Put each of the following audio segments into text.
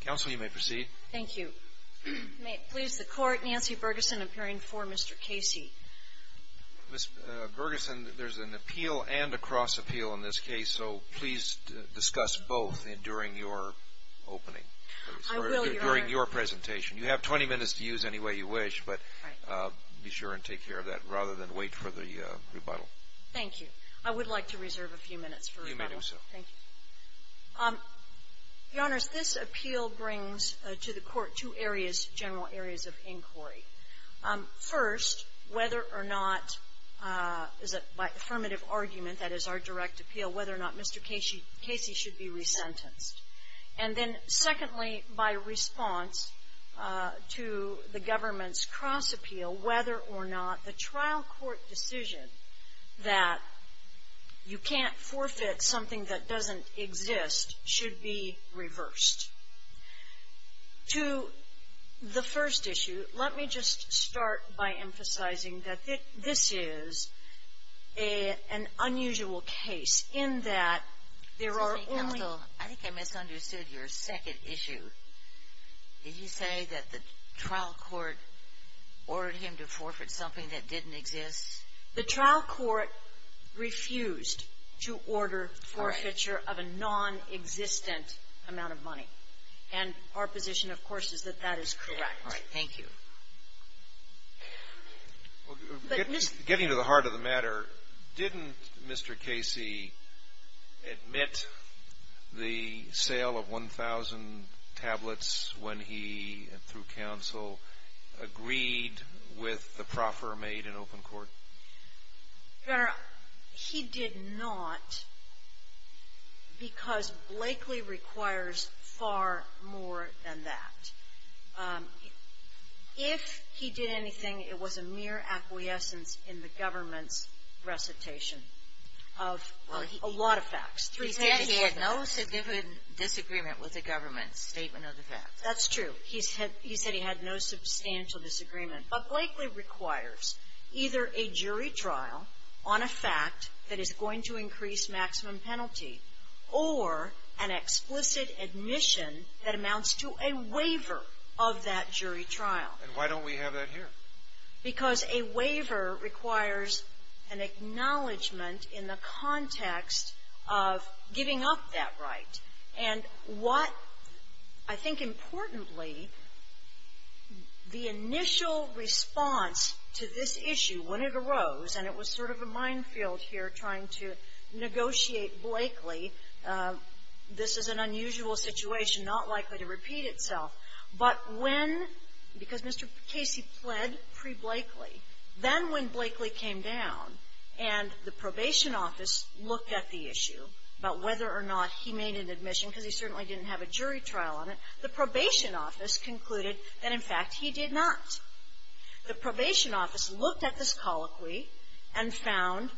Counsel, you may proceed. Thank you. May it please the Court, Nancy Bergeson appearing for Mr. Casey. Ms. Bergeson, there's an appeal and a cross-appeal in this case, so please discuss both during your opening. I will, Your Honor. During your presentation. You have 20 minutes to use any way you wish, but be sure and take care of that rather than wait for the rebuttal. Thank you. I would like to reserve a few minutes for rebuttal. You may do so. Thank you. Your Honors, this appeal brings to the Court two areas, general areas of inquiry. First, whether or not, by affirmative argument, that is our direct appeal, whether or not Mr. Casey should be resentenced. And then, secondly, by response to the government's cross-appeal, whether or not the trial court decision that you can't exist should be reversed. To the first issue, let me just start by emphasizing that this is an unusual case in that there are only Counsel, I think I misunderstood your second issue. Did you say that the trial court ordered him to forfeit something that didn't exist? The trial court refused to order forfeiture of a nonexistent amount of money. And our position, of course, is that that is correct. All right. Thank you. Getting to the heart of the matter, didn't Mr. Casey admit the sale of 1,000 tablets when he, through Counsel, agreed with the proffer made in open court? Your Honor, he did not because Blakely requires far more than that. If he did anything, it was a mere acquiescence in the government's recitation of a lot of facts. He said he had no significant disagreement with the government's statement of the facts. That's true. He said he had no substantial disagreement. But Blakely requires either a jury trial on a fact that is going to increase maximum penalty or an explicit admission that amounts to a waiver of that jury trial. And why don't we have that here? Because a waiver requires an acknowledgment in the context of giving up that right. And what I think importantly, the initial response to this issue when it arose, and it was sort of a minefield here trying to negotiate Blakely, this is an unusual situation, not likely to repeat itself. But when, because Mr. Casey pled pre-Blakely. Then when Blakely came down and the probation office looked at the issue about whether or not he made an admission, because he certainly didn't have a jury trial on it, the probation office concluded that, in fact, he did not. The probation office looked at this colloquy and found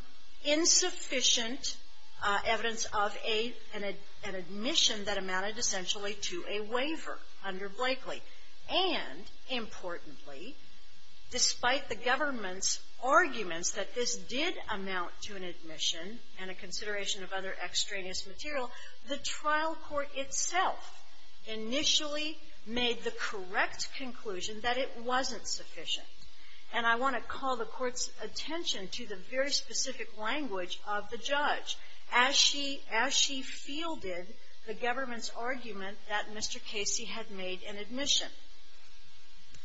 insufficient evidence of an admission that amounted essentially to a waiver under Blakely. And importantly, despite the government's arguments that this did amount to an admission and a consideration of other extraneous material, the trial court itself initially made the correct conclusion that it wasn't sufficient. And I want to call the Court's attention to the very specific language of the judge as she fielded the government's argument that Mr. Casey had made an admission.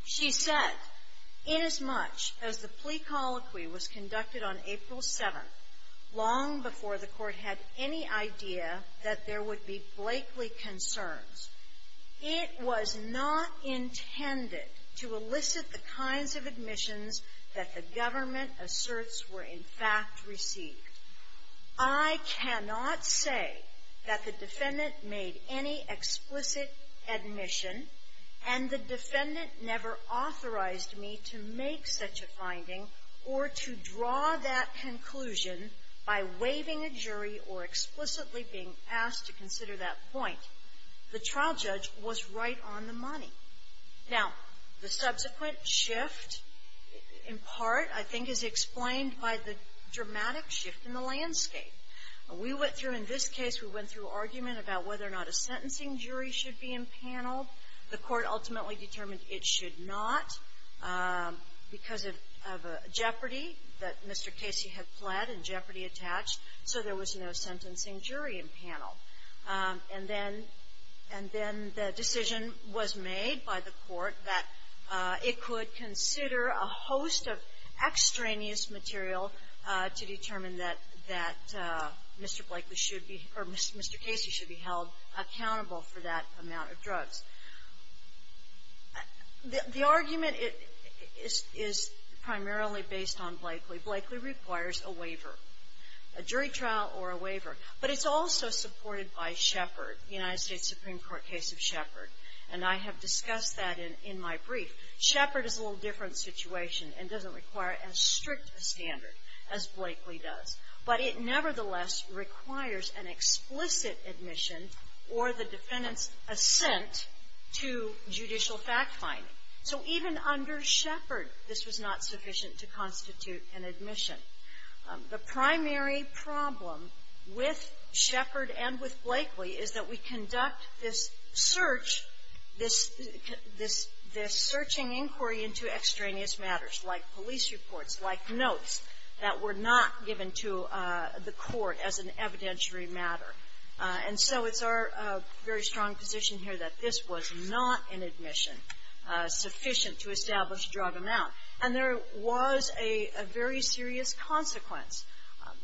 She said, inasmuch as the plea colloquy was conducted on April 7th, long before the Court had any idea that there would be Blakely concerns, it was not intended to elicit the kinds of admissions that the government asserts were, in fact, received. I cannot say that the defendant made any explicit admission, and the defendant never authorized me to make such a finding or to draw that conclusion by waiving a jury or explicitly being asked to consider that point. The trial judge was right on the money. Now, the subsequent shift, in part, I think is explained by the dramatic shift in the landscape. We went through, in this case, we went through argument about whether or not a sentencing jury should be empaneled. The Court ultimately determined it should not because of a jeopardy that Mr. Casey had pled and jeopardy attached, so there was no sentencing jury empaneled. And then the decision was made by the Court that it could consider a host of extraneous material to determine that Mr. Blakely should be or Mr. Casey should be held accountable for that amount of drugs. The argument is primarily based on Blakely. Blakely requires a waiver, a jury trial or a waiver. But it's also supported by Shepard, the United States Supreme Court case of Shepard. And I have discussed that in my brief. Shepard is a little different situation and doesn't require as strict a standard as Blakely does. But it nevertheless requires an explicit admission or the defendant's assent to judicial fact-finding. So even under Shepard, this was not sufficient to constitute an admission. The primary problem with Shepard and with Blakely is that we conduct this search, this searching inquiry into extraneous matters, like police reports, like notes, that were not given to the Court as an evidentiary matter. And so it's our very strong position here that this was not an admission sufficient to establish drug amount. And there was a very serious consequence.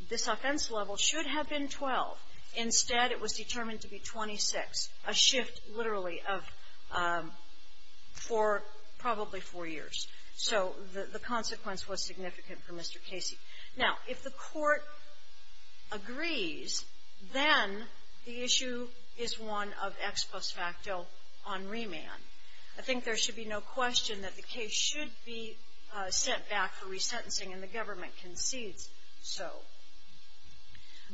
This offense level should have been 12. Instead, it was determined to be 26, a shift literally of four, probably four years. So the consequence was significant for Mr. Casey. Now, if the Court agrees, then the issue is one of ex post facto on remand. I think there should be no question that the case should be sent back for resentencing and the government concedes so.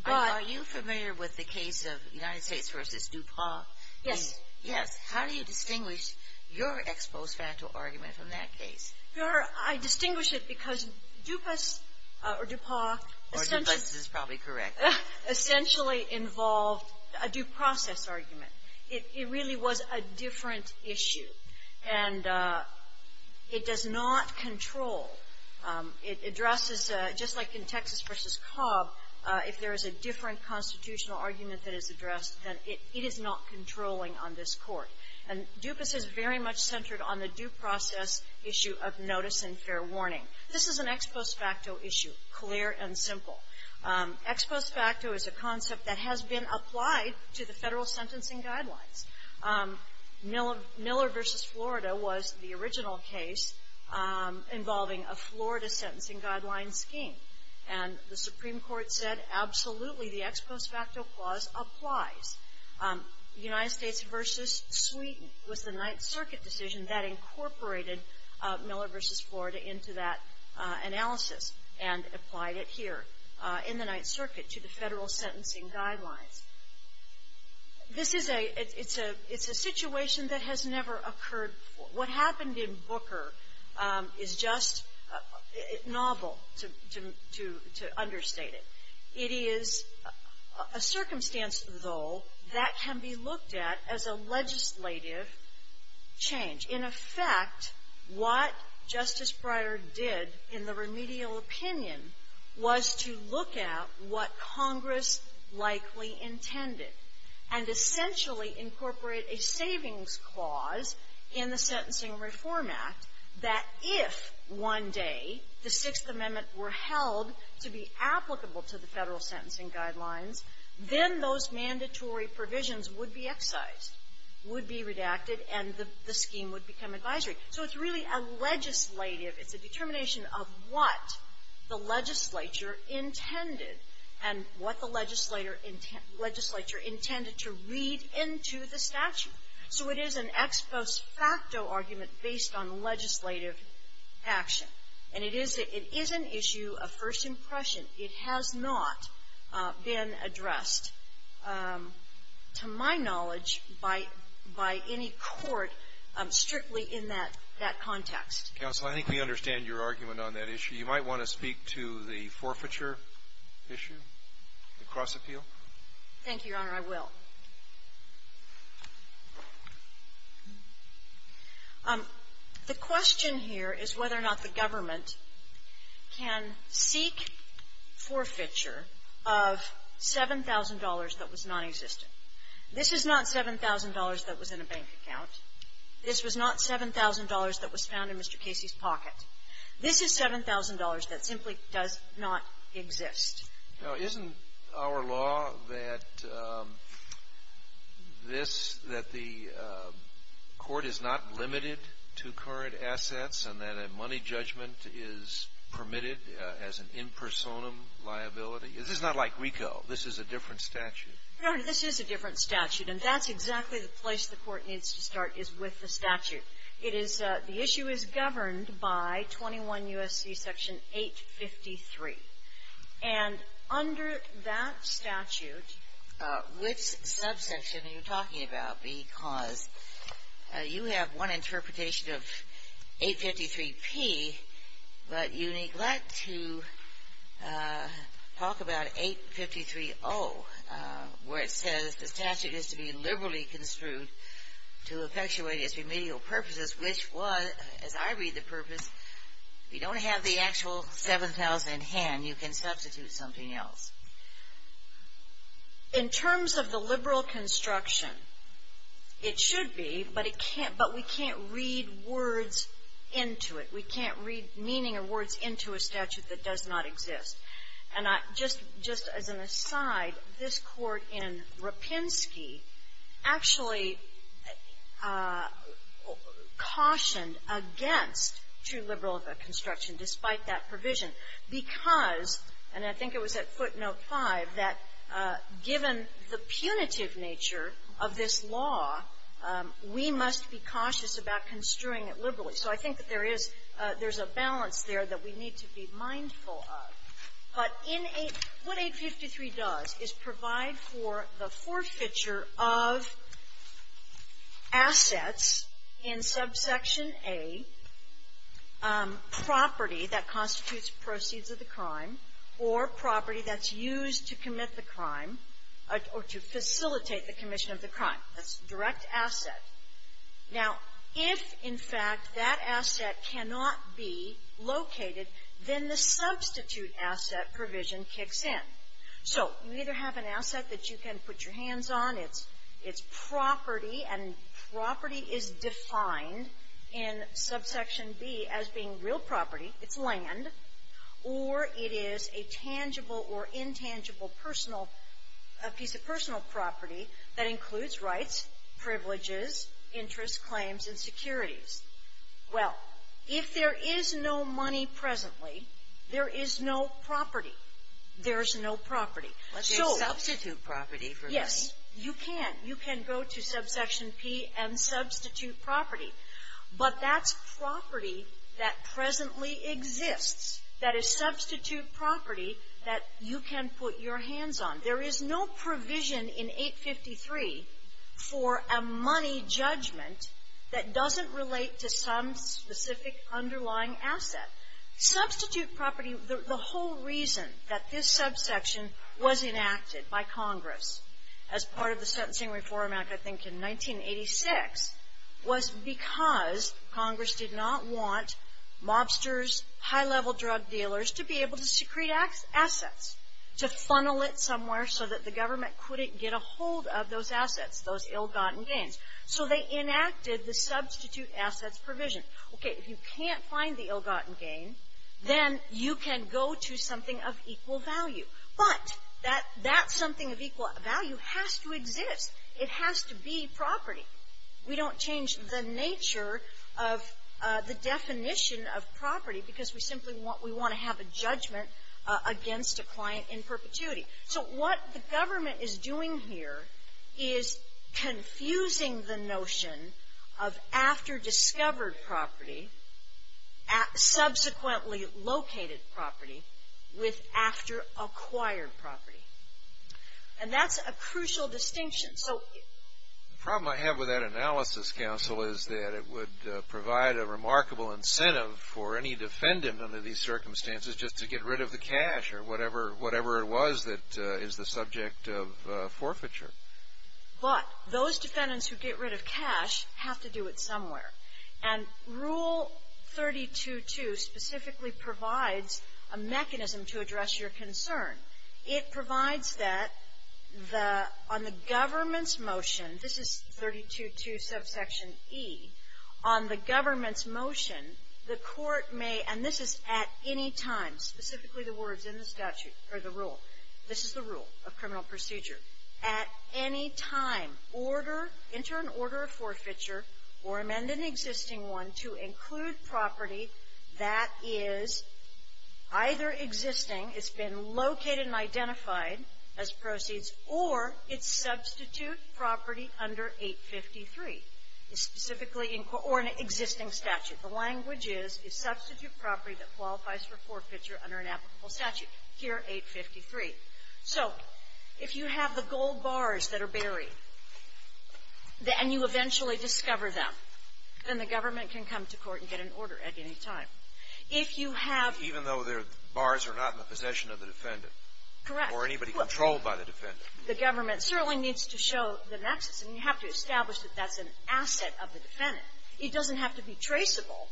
But — But are you familiar with the case of United States v. Dupas? Yes. Yes. How do you distinguish your ex post facto argument from that case? Your Honor, I distinguish it because Dupas or Dupas — Or Dupas is probably correct. — essentially involved a due process argument. It really was a different issue. And it does not control. It addresses, just like in Texas v. Cobb, if there is a different constitutional argument that is addressed, then it is not controlling on this Court. And Dupas is very much centered on the due process issue of notice and fair warning. This is an ex post facto issue, clear and simple. Ex post facto is a concept that has been applied to the federal sentencing guidelines. Miller v. Florida was the original case involving a Florida sentencing guideline scheme. And the Supreme Court said, absolutely, the ex post facto clause applies. United States v. Sweden was the Ninth Circuit decision that incorporated Miller v. Florida into that analysis and applied it here in the Ninth Circuit to the federal sentencing guidelines. This is a — it's a situation that has never occurred before. What happened in Booker is just novel to understate it. It is a circumstance, though, that can be looked at as a legislative change. In effect, what Justice Breyer did in the remedial opinion was to look at what Congress likely intended and essentially incorporate a savings clause in the Sentencing Reform Act that if one day the Sixth Amendment were held to be applicable to the federal sentencing guidelines, then those mandatory provisions would be excised, would be redacted, and the scheme would become advisory. So it's really a legislative — it's a determination of what the legislature intended and what the legislature intended to read into the statute. So it is an ex post facto argument based on legislative action. And it is an issue of first impression. It has not been addressed, to my knowledge, by — by any court strictly in that — that context. Roberts. Counsel, I think we understand your argument on that issue. You might want to speak to the forfeiture issue, the cross-appeal. Thank you, Your Honor. I will. The question here is whether or not the government can seek forfeiture of $7,000 that was nonexistent. This is not $7,000 that was in a bank account. This was not $7,000 that was found in Mr. Casey's pocket. This is $7,000 that simply does not exist. Now, isn't our law that this — that the court is not limited to current assets and that a money judgment is permitted as an impersonum liability? This is not like RICO. This is a different statute. Your Honor, this is a different statute, and that's exactly the place the court needs to start, is with the statute. It is — the issue is governed by 21 U.S.C. Section 853. And under that statute — You have one interpretation of 853P, but you neglect to talk about 853O, where it says the statute is to be liberally construed to effectuate its remedial purposes, which was, as I read the purpose, if you don't have the actual $7,000 in hand, you can substitute something else. In terms of the liberal construction, it should be, but it can't — but we can't read words into it. We can't read meaning or words into a statute that does not exist. And I — just as an aside, this court in Rapinski actually cautioned against true liberal construction, despite that provision, because, and I think it was at footnote 5, that given the punitive nature of this law, we must be cautious about construing it liberally. So I think that there is — there's a balance there that we need to be mindful of. But in a — what 853 does is provide for the forfeiture of assets in subsection A, property that constitutes proceeds of the crime or property that's used to commit the crime or to facilitate the commission of the crime. That's direct asset. Now, if, in fact, that asset cannot be located, then the substitute asset provision kicks in. So you either have an asset that you can put your hands on, it's property, and property is defined in subsection B as being real property, it's land, or it is a tangible or intangible personal — a piece of personal property that includes rights, privileges, interests, claims, and securities. Well, if there is no money presently, there is no property. There's no property. Let's show — and substitute property. But that's property that presently exists. That is substitute property that you can put your hands on. There is no provision in 853 for a money judgment that doesn't relate to some specific underlying asset. Substitute property, the whole reason that this subsection was enacted by Congress as part of the Sentencing Reform Act, I think, in 1986, was because Congress did not want mobsters, high-level drug dealers to be able to secrete assets, to funnel it somewhere so that the government couldn't get a hold of those assets, those ill-gotten gains. So they enacted the substitute assets provision. Okay, if you can't find the ill-gotten gain, then you can go to something of equal value. But that something of equal value has to exist. It has to be property. We don't change the nature of the definition of property because we simply want to have a judgment against a client in perpetuity. So what the government is doing here is confusing the notion of after-discovered subsequently-located property with after-acquired property. And that's a crucial distinction. So the problem I have with that analysis, Counsel, is that it would provide a remarkable incentive for any defendant under these circumstances just to get rid of the cash or whatever it was that is the subject of forfeiture. But those defendants who get rid of cash have to do it somewhere. And Rule 32.2 specifically provides a mechanism to address your concern. It provides that on the government's motion, this is 32.2 subsection E, on the government's motion, the court may, and this is at any time, specifically the words in the statute or the rule, this is the rule of criminal procedure, at any time, order, enter an order of forfeiture or amend an existing one to include property that is either existing, it's been located and identified as proceeds, or it's substitute property under 853, specifically in court, or an existing statute. The language is, it's substitute property that qualifies for forfeiture under an applicable statute, here 853. So if you have the gold bars that are buried, and you eventually discover them, then the government can come to court and get an order at any time. If you have — Even though the bars are not in the possession of the defendant. Correct. Or anybody controlled by the defendant. The government certainly needs to show the nexus. And you have to establish that that's an asset of the defendant. It doesn't have to be traceable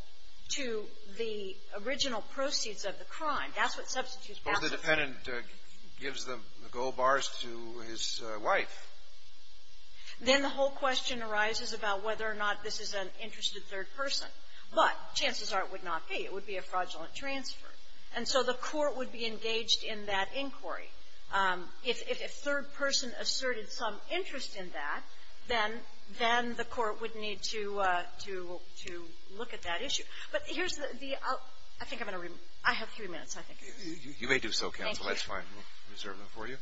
to the original proceeds of the crime. That's what substitute property is. But the defendant gives the gold bars to his wife. Then the whole question arises about whether or not this is an interested third person. But chances are it would not be. It would be a fraudulent transfer. And so the court would be engaged in that inquiry. If a third person asserted some interest in that, then the court would need to look at that issue. But here's the — I think I'm going to — I have three minutes, I think. You may do so, counsel. Thank you. That's fine. We'll reserve them for you.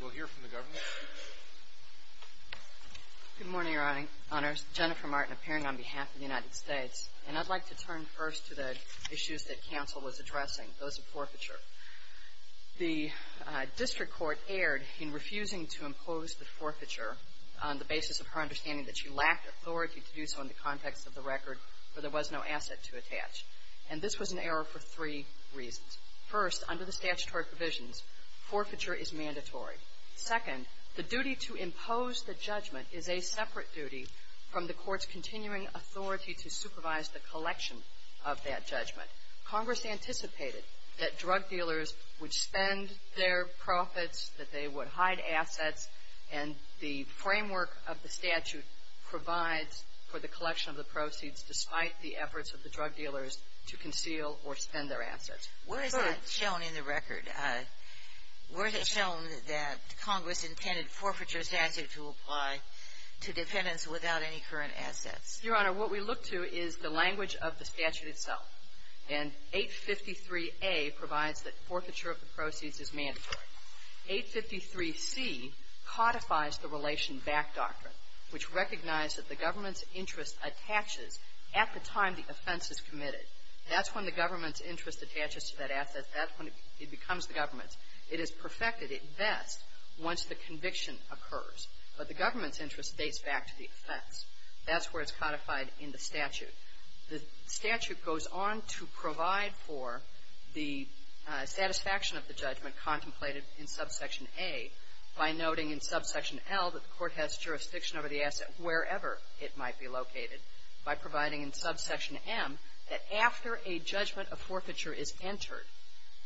We'll hear from the government. Good morning, Your Honors. Jennifer Martin, appearing on behalf of the United States. And I'd like to turn first to the issues that counsel was addressing, those of forfeiture. The district court erred in refusing to impose the forfeiture on the basis of her understanding that she lacked authority to do so in the context of the record where there was no asset to attach. And this was an error for three reasons. First, under the statutory provisions, forfeiture is mandatory. Second, the duty to impose the judgment is a separate duty from the court's continuing authority to supervise the collection of that judgment. Congress anticipated that drug dealers would spend their profits, that they would hide assets, and the framework of the statute provides for the collection of the or spend their assets. Where is that shown in the record? Where is it shown that Congress intended forfeiture statute to apply to defendants without any current assets? Your Honor, what we look to is the language of the statute itself. And 853A provides that forfeiture of the proceeds is mandatory. 853C codifies the relation back doctrine, which recognized that the government's interest attaches at the time the offense is committed. That's when the government's interest attaches to that asset. That's when it becomes the government's. It is perfected at best once the conviction occurs. But the government's interest dates back to the offense. That's where it's codified in the statute. The statute goes on to provide for the satisfaction of the judgment contemplated in subsection A by noting in subsection L that the court has jurisdiction over the assets located by providing in subsection M that after a judgment of forfeiture is entered,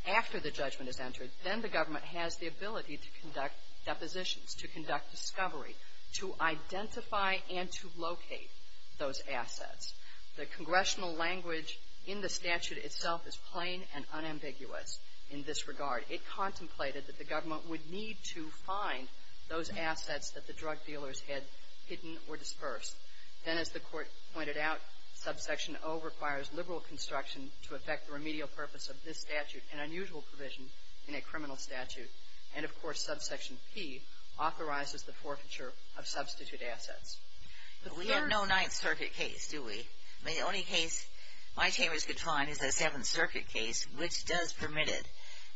after the judgment is entered, then the government has the ability to conduct depositions, to conduct discovery, to identify and to locate those assets. The congressional language in the statute itself is plain and unambiguous in this regard. It contemplated that the government would need to find those assets that the drug dealers had hidden or dispersed. Then, as the Court pointed out, subsection O requires liberal construction to affect the remedial purpose of this statute, an unusual provision in a criminal statute. And, of course, subsection P authorizes the forfeiture of substitute assets. The third — We have no Ninth Circuit case, do we? The only case my chambers could find is the Seventh Circuit case, which does permit it.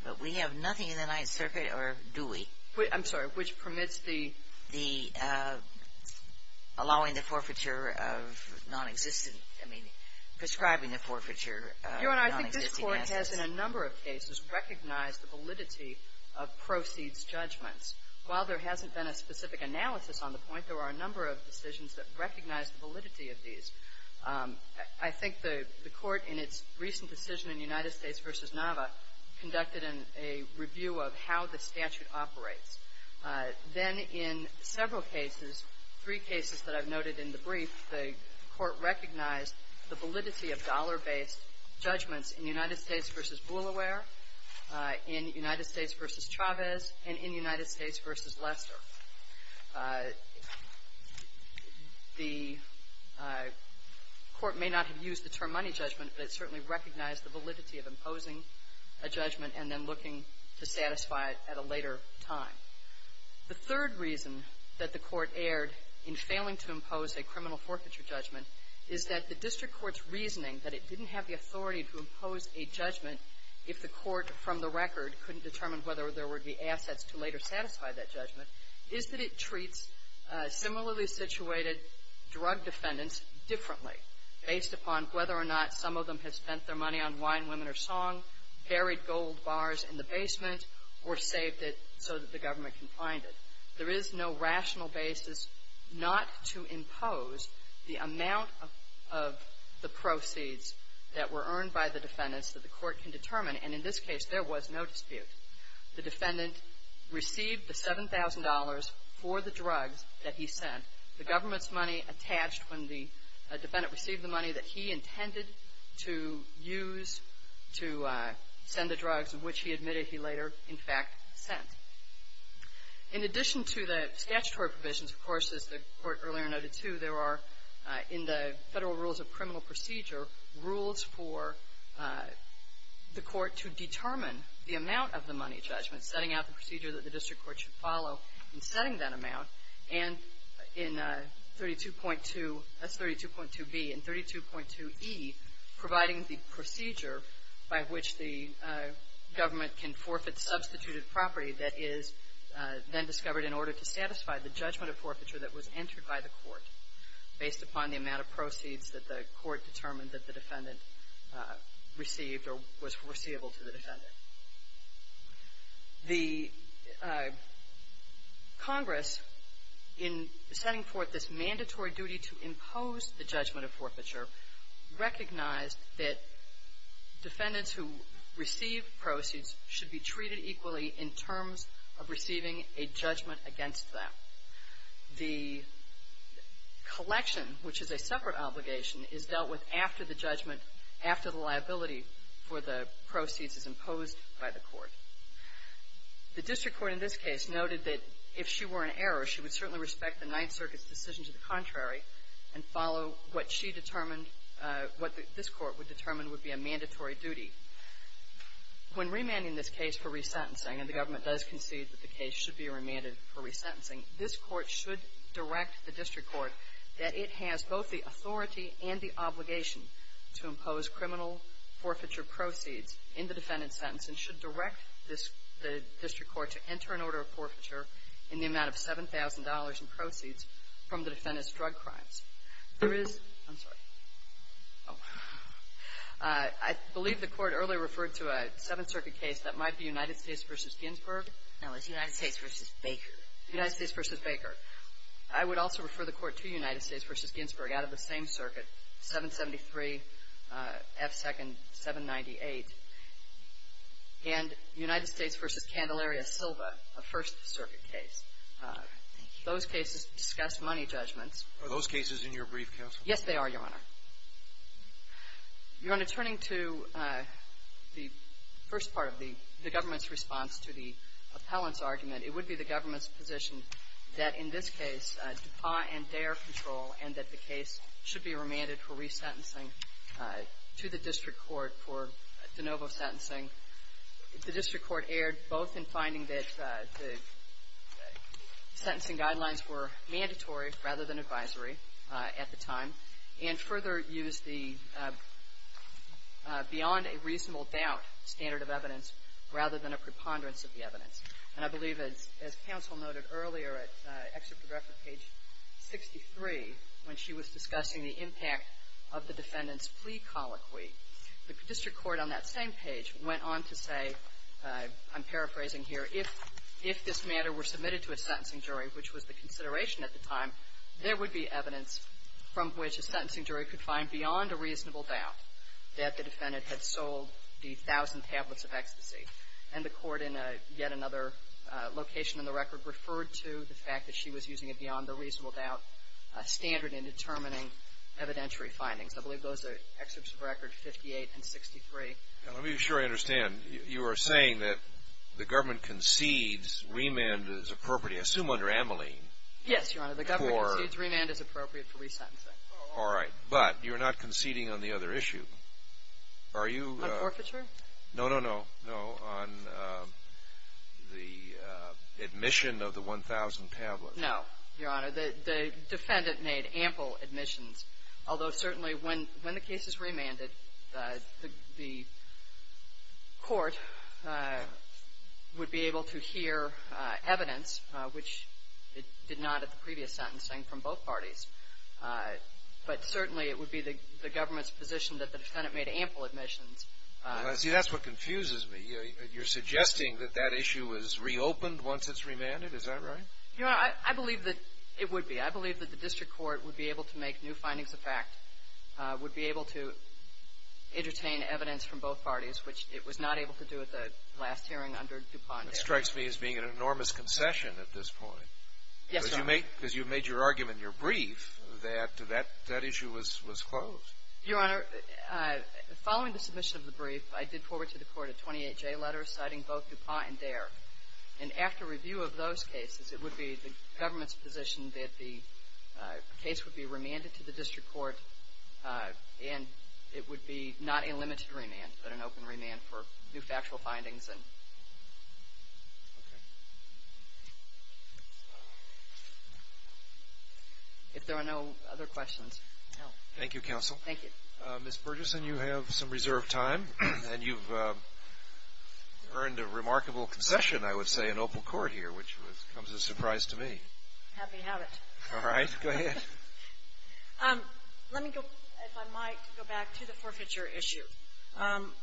But we have nothing in the Ninth Circuit, or do we? I'm sorry. Which permits the allowing the forfeiture of nonexistent — I mean, prescribing the forfeiture of nonexistent assets. Your Honor, I think this Court has, in a number of cases, recognized the validity of proceeds judgments. While there hasn't been a specific analysis on the point, there are a number of decisions that recognize the validity of these. I think the Court, in its recent decision in United States v. Nava, conducted a review of how the statute operates. Then, in several cases, three cases that I've noted in the brief, the Court recognized the validity of dollar-based judgments in United States v. Boulware, in United States v. Chavez, and in United States v. Lester. The Court may not have used the term money judgment, but it certainly recognized the validity of imposing a judgment and then looking to satisfy it at a later time. The third reason that the Court erred in failing to impose a criminal forfeiture judgment is that the district court's reasoning that it didn't have the authority to impose a judgment if the court, from the record, couldn't determine whether there would be assets to later satisfy that judgment, is that it treats similarly situated drug defendants differently based upon whether or not some of them have spent their money on wine, women, or song, buried gold bars in the basement, or saved it so that the government can find it. There is no rational basis not to impose the amount of the proceeds that were earned by the defendants that the court can determine, and in this case, there was no dispute. The defendant received the $7,000 for the drugs that he sent. The government's money attached when the defendant received the money that he intended to use to send the drugs, of which he admitted he later, in fact, sent. In addition to the statutory provisions, of course, as the Court earlier noted too, there are, in the Federal Rules of Criminal Procedure, rules for the court to determine the amount of the money judgment, setting out the procedure that the district court should follow in setting that amount, and in 32.2b and 32.2e, providing the procedure by which the government can forfeit substituted property that is then discovered in order to satisfy the judgment of forfeiture that was entered by the court based upon the amount of proceeds that the court determined that the defendant received or was foreseeable to the defendant. The Congress, in setting forth this mandatory duty to impose the judgment of forfeiture, recognized that defendants who receive proceeds should be treated equally in terms of receiving a judgment against them. The collection, which is a separate obligation, is dealt with after the judgment, after the liability for the proceeds is imposed by the court. The district court in this case noted that if she were in error, she would certainly respect the Ninth Circuit's decision to the contrary and follow what she determined, what this court would determine would be a mandatory duty. When remanding this case for resentencing, and the government does concede that the case should be remanded for resentencing, this court should direct the district court that it has both the authority and the obligation to impose criminal forfeiture proceeds in the defendant's sentence and should direct the district court to enter an order of forfeiture in the amount of $7,000 in proceeds from the defendant's drug crimes. There is — I'm sorry. Oh. I believe the court earlier referred to a Seventh Circuit case that might be United States v. Ginsburg. Sotomayor, United States v. Baker. United States v. Baker. I would also refer the court to United States v. Ginsburg out of the same circuit, 773 F. 2nd. 798. And United States v. Candelaria Silva, a First Circuit case. Those cases discuss money judgments. Are those cases in your brief, Counsel? Yes, they are, Your Honor. Your Honor, turning to the first part of the government's response to the appellant's position that, in this case, DuPont and Dare control and that the case should be remanded for resentencing to the district court for de novo sentencing, the district court erred both in finding that the sentencing guidelines were mandatory rather than advisory at the time and further used the beyond a reasonable doubt standard of evidence rather than a preponderance of the evidence. And I believe, as Counsel noted earlier at Excerpt of Reference, page 63, when she was discussing the impact of the defendant's plea colloquy, the district court on that same page went on to say, I'm paraphrasing here, if this matter were submitted to a sentencing jury, which was the consideration at the time, there would be evidence from which a sentencing jury could find beyond a reasonable doubt that the defendant had sold the thousand tablets of ecstasy. And the court, in yet another location in the record, referred to the fact that she was using a beyond a reasonable doubt standard in determining evidentiary findings. I believe those are Excerpts of Record 58 and 63. Now, let me be sure I understand. You are saying that the government concedes remand is appropriate, I assume under Amelie. Yes, Your Honor. The government concedes remand is appropriate for resentencing. All right. But you're not conceding on the other issue. Are you? On forfeiture? No, no, no. No, on the admission of the 1,000 tablets. No, Your Honor. The defendant made ample admissions. Although certainly when the case is remanded, the court would be able to hear evidence, which it did not at the previous sentencing from both parties. But certainly it would be the government's position that the defendant made ample admissions. Well, see, that's what confuses me. You're suggesting that that issue was reopened once it's remanded. Is that right? Your Honor, I believe that it would be. I believe that the district court would be able to make new findings of fact, would be able to entertain evidence from both parties, which it was not able to do at the last hearing under DuPont. Yes, Your Honor. Because you made your argument in your brief that that issue was closed. Your Honor, following the submission of the brief, I did forward to the court a 28-J letter citing both DuPont and DARE. And after review of those cases, it would be the government's position that the case would be remanded to the district court and it would be not a limited remand, but an open remand for new factual findings. Okay. If there are no other questions. Thank you, Counsel. Thank you. Ms. Burgesson, you have some reserved time. And you've earned a remarkable concession, I would say, in Opal Court here, which comes as a surprise to me. Happy habit. All right. Go ahead. Let me go, if I might, go back to the forfeiture issue.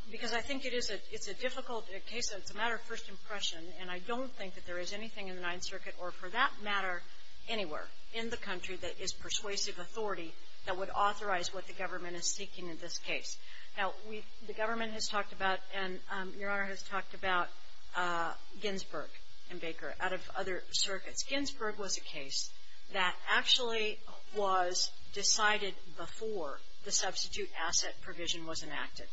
Because I think it is a difficult case. It's a matter of first impression. And I don't think that there is anything in the Ninth Circuit or, for that matter, anywhere in the country that is persuasive authority that would authorize what the government is seeking in this case. Now, the government has talked about, and Your Honor has talked about, Ginsburg and Baker out of other circuits. Ginsburg was a case that actually was decided before the substitute asset provision was enacted.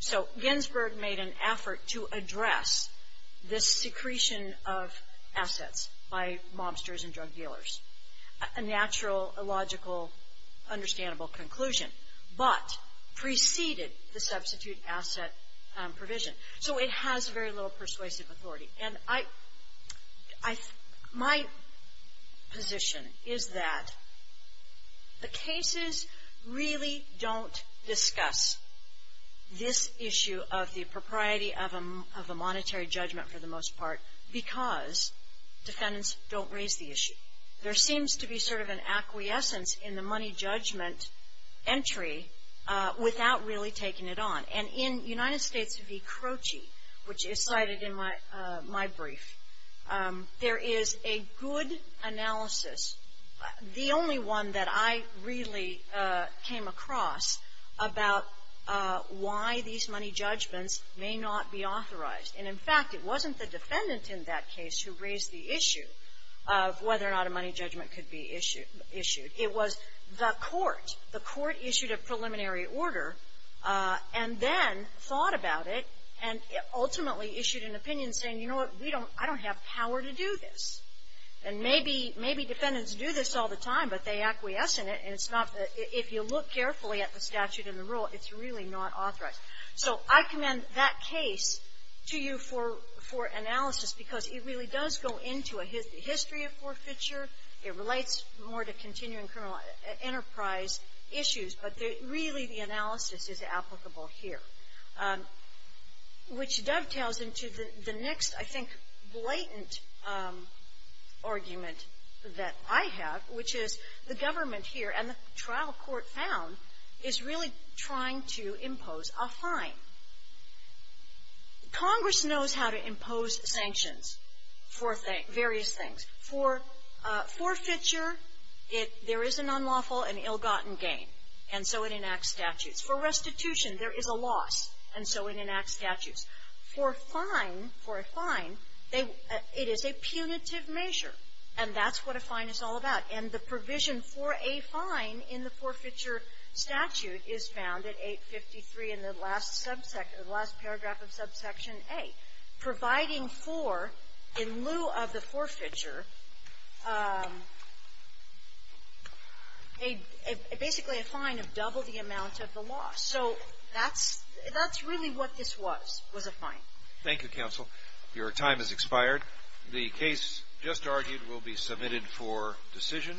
So Ginsburg made an effort to address this secretion of assets by mobsters and drug dealers, a natural, logical, understandable conclusion, but preceded the substitute asset provision. So it has very little persuasive authority. And my position is that the cases really don't discuss this issue of the propriety of a monetary judgment, for the most part, because defendants don't raise the issue. There seems to be sort of an acquiescence in the money judgment entry without really taking it on. And in United States v. Croce, which is cited in my brief, there is a good analysis, the only one that I really came across, about why these money judgments may not be authorized. And, in fact, it wasn't the defendant in that case who raised the issue of whether or not a money judgment could be issued. It was the court. The court issued a preliminary order and then thought about it and ultimately issued an opinion saying, you know what, I don't have power to do this. And maybe defendants do this all the time, but they acquiesce in it. And if you look carefully at the statute and the rule, it's really not authorized. So I commend that case to you for analysis because it really does go into a history of forfeiture. It relates more to continuing criminal enterprise issues, but really the analysis is applicable here, which dovetails into the next, I think, blatant argument that I have, which is the government here and the trial court found is really trying to impose a fine. Congress knows how to impose sanctions for various things. For forfeiture, there is an unlawful and ill-gotten gain, and so it enacts statutes. For restitution, there is a loss, and so it enacts statutes. For a fine, it is a punitive measure, and that's what a fine is all about. And the provision for a fine in the forfeiture statute is found at 853 in the last paragraph of subsection A, providing for, in lieu of the forfeiture, basically a fine of double the amount of the loss. So that's really what this was, was a fine. Thank you, counsel. Your time has expired. The case just argued will be submitted for decision.